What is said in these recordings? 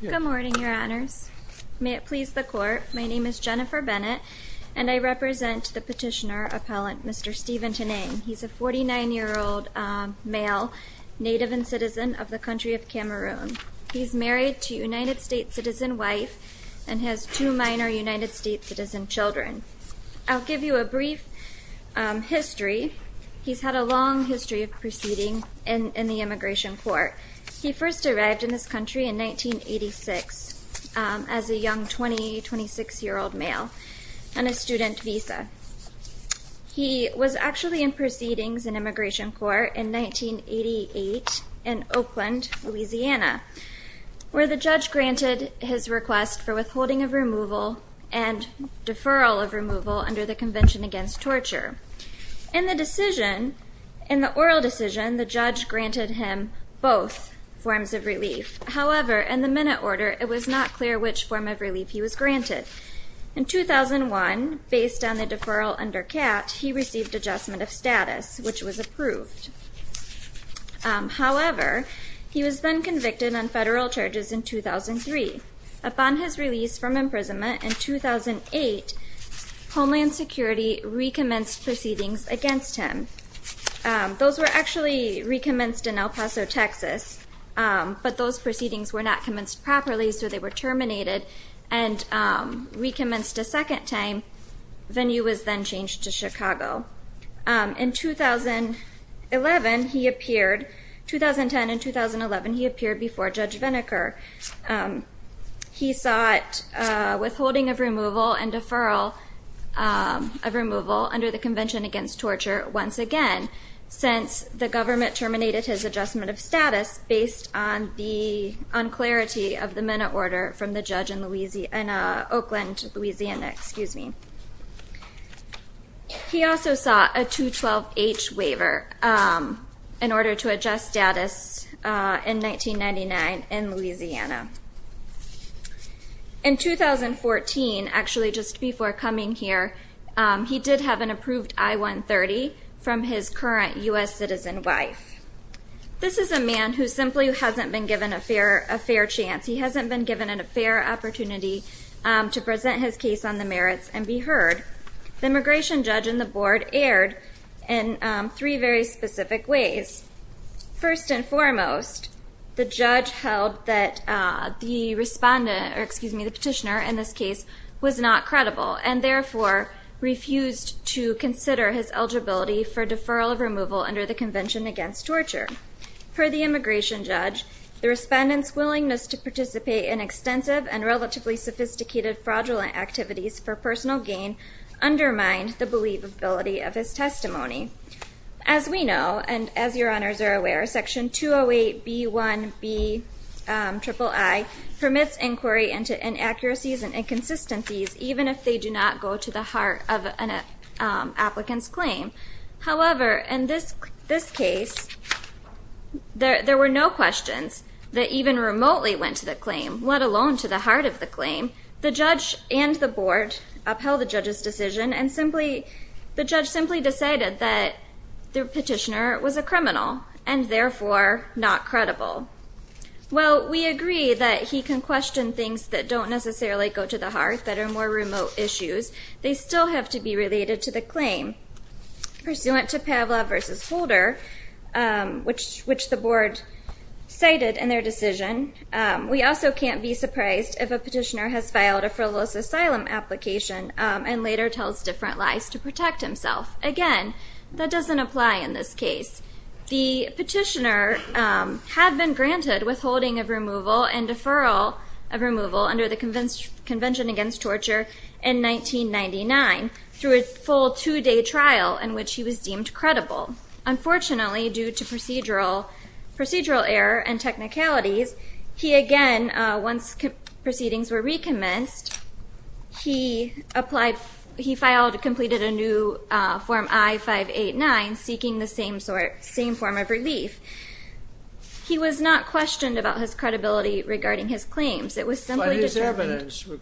Good morning, Your Honors. May it please the Court, my name is Jennifer Bennett and I represent the petitioner-appellant, Mr. Stephen Teneng. He's a 49-year-old male, native and citizen of the country of Cameroon. He's married to a United States citizen wife and has two minor United States citizen children. I'll give you a brief history. He's had a long history of proceeding in the immigration court. He first arrived in this country in 1986 as a young 20, 26-year-old male on a student visa. He was actually in proceedings in immigration court in 1988 in Oakland, Louisiana, where the judge granted his request for withholding of removal and deferral of removal under the Convention Against Torture. In the decision, in the oral decision, the judge granted him both forms of relief. However, in the minute order, it was not clear which form of relief he was granted. In 2001, based on the deferral under CAT, he received adjustment of status, which was approved. However, he was then convicted on federal charges in 2003. Upon his release from imprisonment in 2008, Homeland Security recommenced proceedings against him. Those were actually recommenced in El Paso, Texas, but those proceedings were not commenced properly, so they were terminated and recommenced a second time. Venue was then changed to Chicago. In 2011, he appeared, 2010 and 2011, he appeared before Judge Vinokur. He sought withholding of removal and deferral of removal under the Convention Against Torture once again, since the government terminated his adjustment of status based on the unclarity of the minute order from the judge in Oakland, Louisiana. He also sought a 212H waiver in order to adjust status in 1999 in Louisiana. In 2014, actually just before coming here, he did have an approved I-130 from his current U.S. citizen wife. This is a man who simply hasn't been given a fair chance. He hasn't been given a fair opportunity to present his case on the merits and be heard. The immigration judge and the board erred in three very specific ways. First and foremost, the judge held that the respondent, or excuse me, the petitioner in this case, was not credible, and therefore refused to consider his eligibility for deferral of removal under the Convention Against Torture. Per the immigration judge, the respondent's willingness to participate in extensive and relatively sophisticated fraudulent activities for personal gain undermined the believability of his testimony. As we know, and as your honors are aware, Section 208B1Biii permits inquiry into inaccuracies and inconsistencies, even if they do not go to the heart of an This case, there were no questions that even remotely went to the claim, let alone to the heart of the claim. The judge and the board upheld the judge's decision, and the judge simply decided that the petitioner was a criminal, and therefore not credible. While we agree that he can question things that don't necessarily go to the heart, that are more remote issues, they still have to be related to the claim. Pursuant to Pavlov versus Holder, which the board cited in their decision, we also can't be surprised if a petitioner has filed a frivolous asylum application, and later tells different lies to protect himself. Again, that doesn't apply in this case. The petitioner had been granted withholding of removal and deferral of removal under the Convention Against Torture in 1999 through a full two-day trial in which he was deemed credible. Unfortunately, due to procedural error and technicalities, he again, once proceedings were recommenced, he filed and completed a new Form I-589, seeking the same form of relief. He was not questioned about his credibility regarding his claims. It was simply determined- We certainly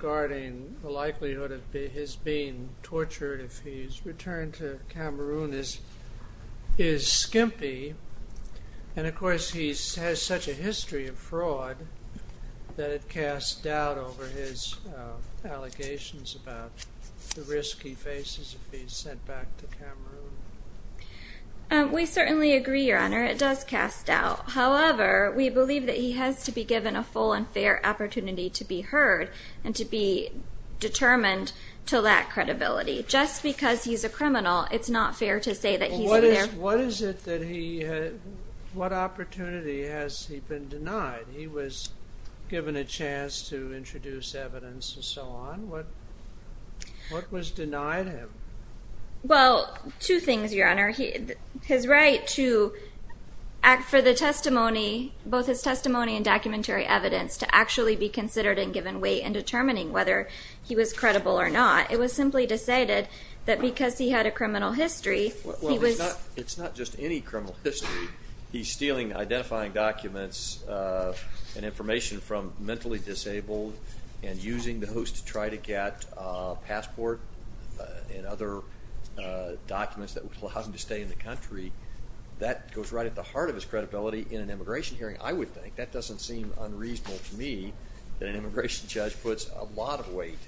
agree, Your Honor, it does cast doubt. However, we believe that he has to be given a full and fair opportunity to be heard, and to be determined to lack credibility. Just because he's a criminal, it's not fair to say that he's in there- What is it that he- What opportunity has he been denied? He was given a chance to introduce evidence and so on. What was denied him? Well, two things, Your Honor. His right to act for the testimony, both his testimony and documentary evidence, to actually be considered and given weight in determining whether he was convicted, that because he had a criminal history, he was- It's not just any criminal history. He's stealing, identifying documents and information from mentally disabled and using those to try to get a passport and other documents that would allow him to stay in the country. That goes right at the heart of his credibility in an immigration hearing, I would think. That doesn't seem unreasonable to me, that an immigration judge puts a lot of weight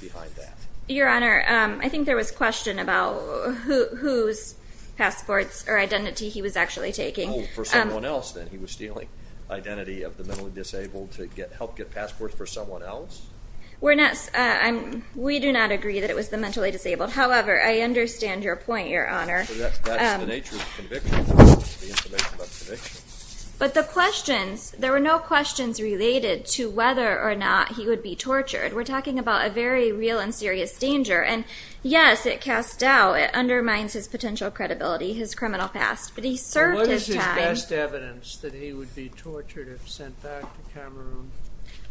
behind that. Your Honor, I think there was a question about whose passports or identity he was actually taking. Oh, for someone else then. He was stealing identity of the mentally disabled to help get passports for someone else? We do not agree that it was the mentally disabled. However, I understand your point, Your Honor. That's the nature of conviction, the information about conviction. But the questions, there were no questions related to whether or not he would be tortured. We're talking about a very real and serious danger. And yes, it casts doubt. It undermines his potential credibility, his criminal past. But he served his time- What is his best evidence that he would be tortured if sent back to Cameroon?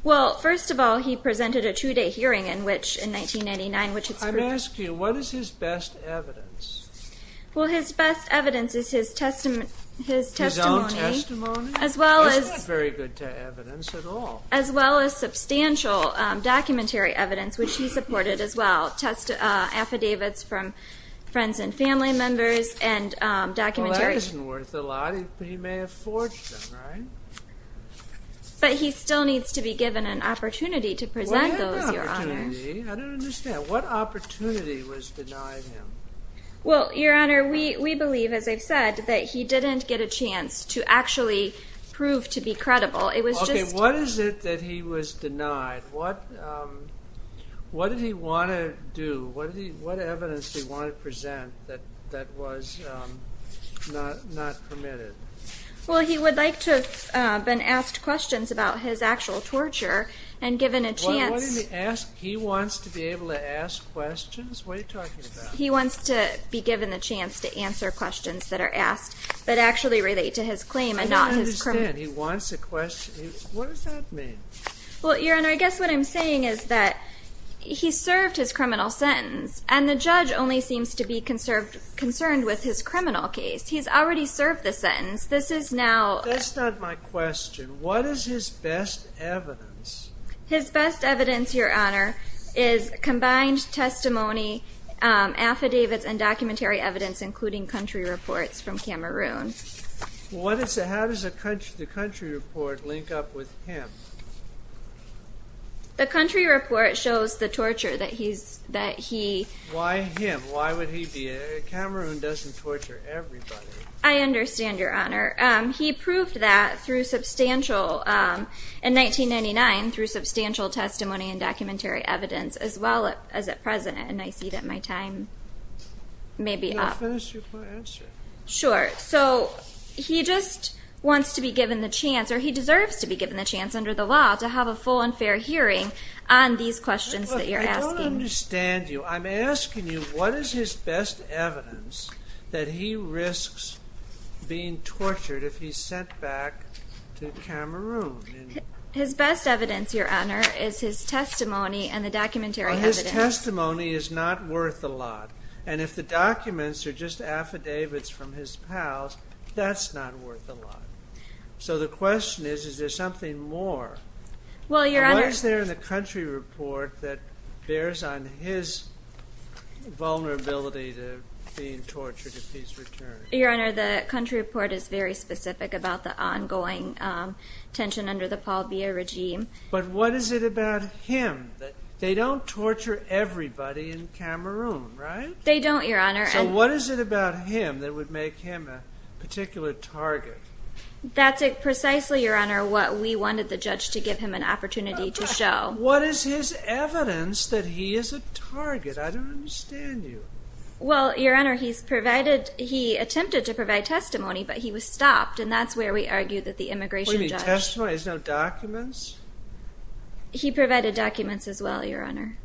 Well, first of all, he presented a two-day hearing in which, in 1999, which it's- I'm asking you, what is his best evidence? Well, his best evidence is his testimony- His own testimony? As well as- He's not very good to evidence at all. As well as substantial documentary evidence, which he supported as well, affidavits from friends and family members and documentary- Well, that isn't worth a lot. He may have forged them, right? But he still needs to be given an opportunity to present those, Your Honor. What opportunity? I don't understand. What opportunity was denied him? Well, Your Honor, we believe, as I've said, that he didn't get a chance to actually prove to be credible. It was just- What is it that he was denied? What did he want to do? What evidence did he want to present that was not permitted? Well, he would like to have been asked questions about his actual torture and given a chance- What did he ask? He wants to be able to ask questions? What are you talking about? He wants to be given the chance to answer questions that are asked that actually relate to his claim and not his criminal- He wants a question? What does that mean? Well, Your Honor, I guess what I'm saying is that he served his criminal sentence and the judge only seems to be concerned with his criminal case. He's already served the sentence. This is now- That's not my question. What is his best evidence? His best evidence, Your Honor, is combined testimony, affidavits and documentary evidence including country reports from Cameroon. How does the country report link up with him? The country report shows the torture that he- Why him? Why would he be? Cameroon doesn't torture everybody. I understand, Your Honor. He proved that through substantial- in 1999, through substantial testimony and documentary evidence as well as at present, and I see that my time may be up. I'll finish with my answer. Sure. So, he just wants to be given the chance- or he deserves to be given the chance under the law to have a full and fair hearing on these questions that you're asking. I don't understand you. I'm asking you, what is his best evidence that he risks being tortured if he's sent back to Cameroon? His best evidence, Your Honor, is his testimony and the documentary evidence. Well, his testimony is not worth a lot. And if the documents are just affidavits from his pals, that's not worth a lot. So the question is, is there something more? Well, Your Honor- What is there in the country report that bears on his vulnerability to being tortured if he's returned? Your Honor, the country report is very specific about the ongoing tension under the Paul Bier regime. But what is it about him that- They don't, Your Honor. So what is it about him that would make him a particular target? That's precisely, Your Honor, what we wanted the judge to give him an opportunity to show. What is his evidence that he is a target? I don't understand you. Well, Your Honor, he's provided- he attempted to provide testimony, but he was stopped. And that's where we argue that the immigration judge- What do you mean, testimony? There's no documents? He provided documents as well, Your Honor.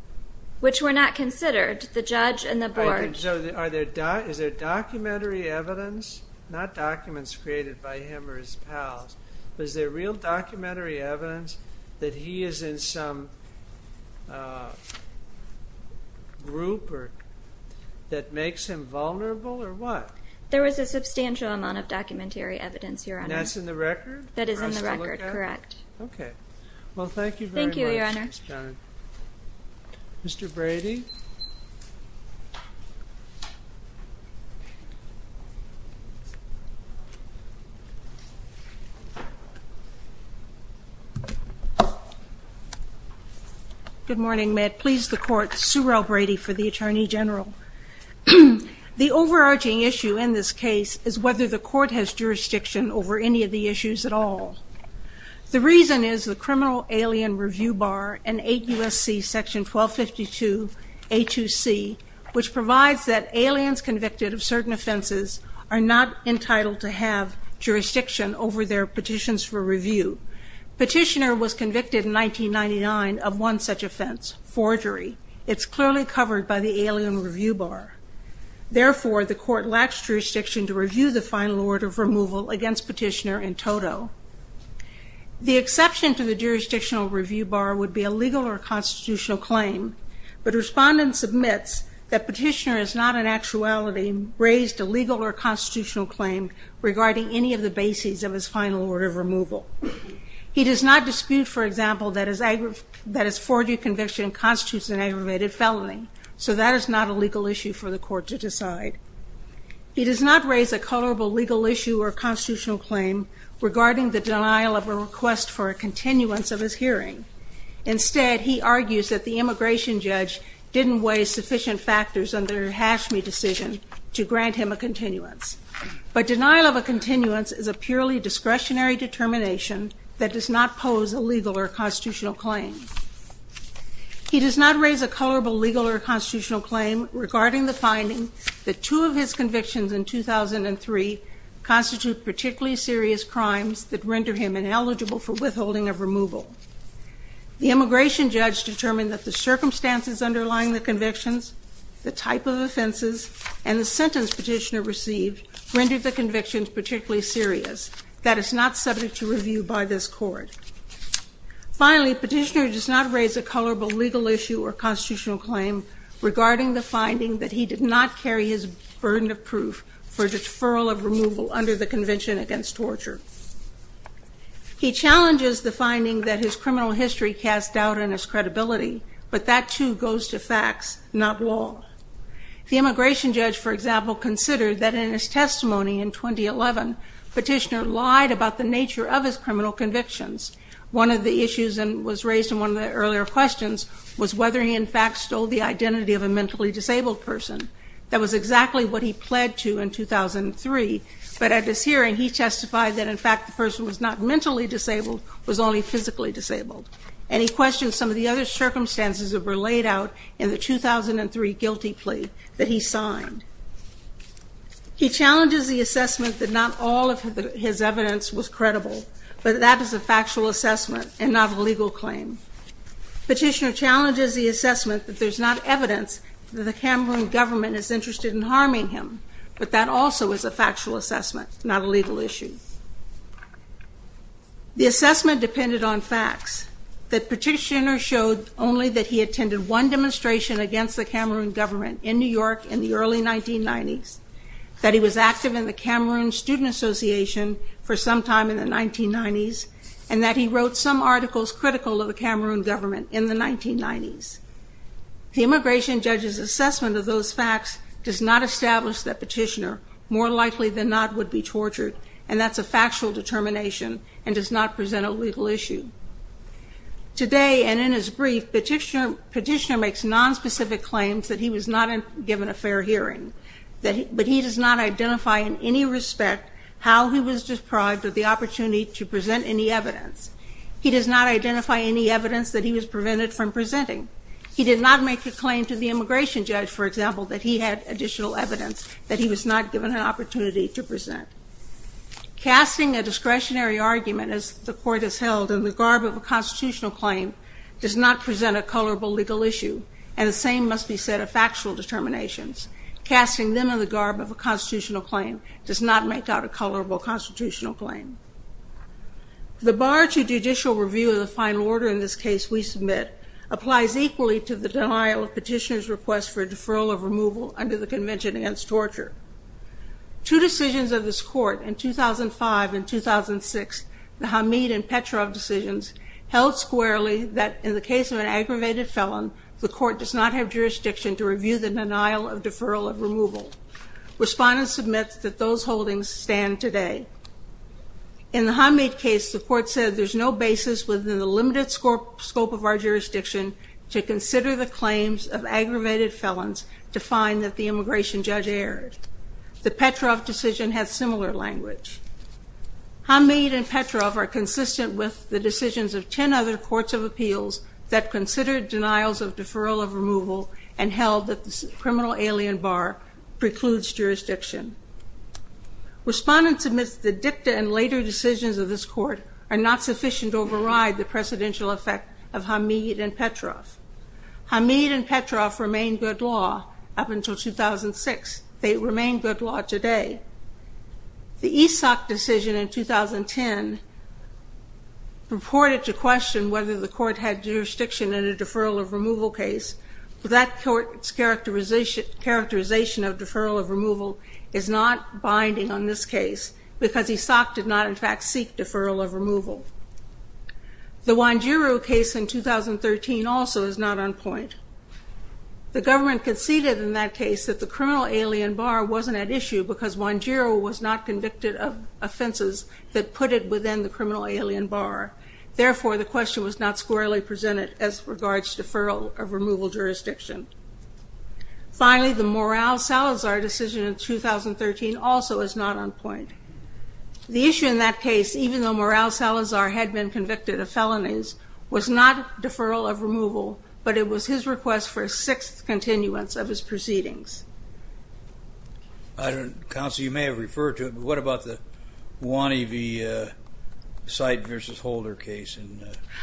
Which were not considered, the judge and the board. So is there documentary evidence? Not documents created by him or his pals. But is there real documentary evidence that he is in some group that makes him vulnerable, or what? There was a substantial amount of documentary evidence, Your Honor. That's in the record? That is in the record, correct. Okay. Well, thank you very much. Thank you, Your Honor. Mr. Brady? Good morning, Matt. Please the court, Surel Brady for the Attorney General. The overarching issue in this case is whether the court has jurisdiction over any of the issues at all. The reason is the Criminal Alien Review Bar and 8 U.S.C. Section 1252, A.2.C., which provides that aliens convicted of certain offenses are not entitled to have jurisdiction over their petitions for review. Petitioner was convicted in 1999 of one such offense, forgery. It's clearly covered by the Alien Review Bar. Therefore, the court lacks jurisdiction to review the final order of removal against Petitioner in toto. The exception to the jurisdictional review bar would be a legal or constitutional claim. But respondents admits that Petitioner has not in actuality raised a legal or constitutional claim regarding any of the bases of his final order of removal. He does not dispute, for example, that his forgery conviction constitutes an aggravated felony. So that is not a legal issue for the court to decide. He does not raise a colorable legal issue or constitutional claim regarding the denial of a request for a continuance of his hearing. Instead, he argues that the immigration judge didn't weigh sufficient factors on their Hashmi decision to grant him a continuance. But denial of a continuance is a purely discretionary determination that does not pose a legal or constitutional claim. He does not raise a colorable legal or constitutional claim regarding the finding that two of his convictions in 2003 constitute particularly serious crimes that render him ineligible for withholding of removal. The immigration judge determined that the circumstances underlying the convictions, the type of offenses, and the sentence Petitioner received rendered the convictions particularly serious. That is not subject to review by this court. Finally, Petitioner does not raise a colorable legal issue or constitutional claim regarding the finding that he did not carry his burden of proof for deferral of removal under the Convention Against Torture. He challenges the finding that his criminal history casts doubt on his credibility, but that too goes to facts, not law. The immigration judge, for example, considered that in his testimony in 2011, Petitioner lied about the nature of his criminal convictions. One of the issues that was raised in one of the earlier questions was whether he in fact stole the identity of a mentally disabled person. That was exactly what he pled to in 2003, but at this hearing he testified that, in fact, the person was not mentally disabled, was only physically disabled. And he questioned some of the other circumstances that were laid out in the 2003 guilty plea that he signed. He challenges the assessment that not all of his evidence was credible, but that that is a factual assessment and not a legal claim. Petitioner challenges the assessment that there's not evidence that the Cameroon government is interested in harming him, but that also is a factual assessment, not a legal issue. The assessment depended on facts, that Petitioner showed only that he attended one demonstration against the Cameroon government in New York in the early 1990s, that he was active in the Cameroon Student Association for some time in the 1990s, and that he wrote some articles critical of the Cameroon government in the 1990s. The immigration judge's assessment of those facts does not establish that Petitioner, more likely than not, would be tortured, and that's a factual determination, and does not present a legal issue. Today, and in his brief, Petitioner makes non-specific claims that he was not given a fair hearing, but he does not identify in any respect how he was deprived of the opportunity to present any evidence. He does not identify any evidence that he was prevented from presenting. He did not make a claim to the immigration judge, for example, that he had additional evidence that he was not given an opportunity to present. Casting a discretionary argument, as the Court has held, in the garb of a constitutional claim, does not present a colorable legal issue, and the same must be said of factual determinations. Casting them in the garb of a constitutional claim does not make out a colorable constitutional claim. The bar to judicial review of the final order in this case we submit applies equally to the denial of Petitioner's request for a deferral of removal under the Convention Against Torture. Two decisions of this Court in 2005 and 2006, the Hamid and Petrov decisions, held squarely that in the case of an aggravated felon, the Court does not have jurisdiction to review the denial of deferral of removal. Respondents submit that those holdings stand today. In the Hamid case, the Court said there's no basis within the limited scope of our jurisdiction to consider the claims of aggravated felons to find that the immigration judge erred. The Petrov decision has similar language. Hamid and Petrov are consistent with the decisions of ten other courts of appeals that considered denials of deferral of removal and held that the criminal alien bar precludes jurisdiction. Respondents admit that the dicta and later decisions of this Court are not sufficient to override the precedential effect of Hamid and Petrov. Hamid and Petrov remained good law up until 2006. They remain good law today. The Isak decision in 2010 purported to question whether the Court had jurisdiction in a deferral of removal case. That Court's characterization of deferral of removal is not binding on this case because Isak did not in fact seek deferral of removal. The Wanjiru case in 2013 also is not on point. The government conceded in that case that the criminal alien bar wasn't at issue because Wanjiru was not convicted of offenses that put it within the criminal alien bar. Therefore, the question was not squarely presented as regards deferral of removal jurisdiction. Finally, the Moral Salazar decision in 2013 also is not on point. The issue in that case, even though Moral Salazar had been convicted of felonies, was not deferral of removal, but it was his request for a sixth continuance of his proceedings. Counsel, you may have referred to it, but what about the Wani v. Seidt v. Holder case?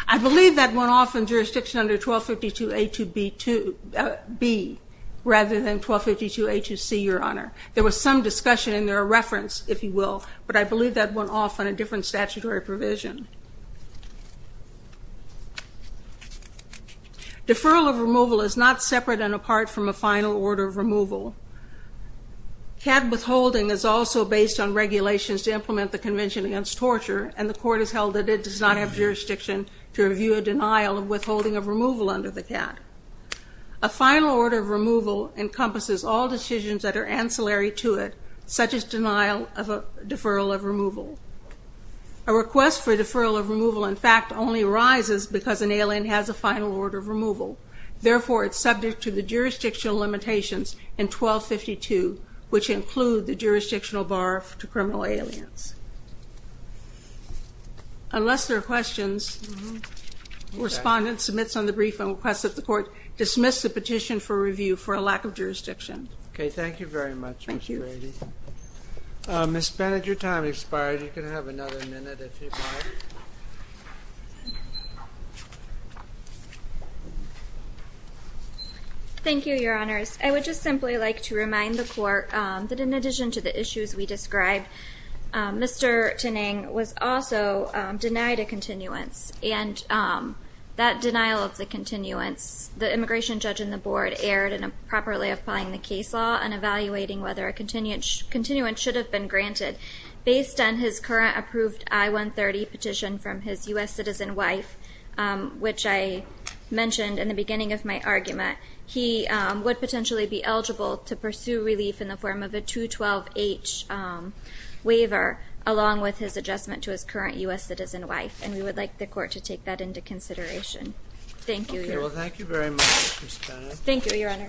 I believe that went off in jurisdiction under 1252A2B2. rather than 1252A2C, Your Honor. There was some discussion in their reference, if you will, but I believe that went off on a different statutory provision. Deferral of removal is not separate and apart from a final order of removal. CAD withholding is also based on regulations to implement the Convention Against Torture, and the Court has held that it does not have jurisdiction to review a denial of withholding of removal under the CAD. A final order of removal encompasses all decisions that are ancillary to it, such as denial of deferral of removal. A request for deferral of removal, in fact, only arises because an alien has a final order of removal. Therefore, it's subject to the jurisdictional limitations in 1252, which include the jurisdictional bar to criminal aliens. Unless there are questions, Respondent submits on the brief and requests that the Court dismiss the petition for review for a lack of jurisdiction. Okay, thank you very much, Ms. Brady. Ms. Bennett, your time has expired. You can have another minute if you'd like. Thank you, Your Honors. I would just simply like to remind the Court that in addition to the issues we described, Mr. Taneng was also denied a continuance. And that denial of the continuance, the immigration judge and the Board erred in improperly applying the case law and evaluating whether a continuance should have been granted. Based on his current approved I-130 petition from his U.S. citizen wife, which I mentioned in the beginning of my argument, he would potentially be eligible to pursue relief in the form of a 212H waiver along with his adjustment to his current U.S. citizen wife. And we would like the Court to take that into consideration. Thank you. Thank you very much, Ms. Bennett.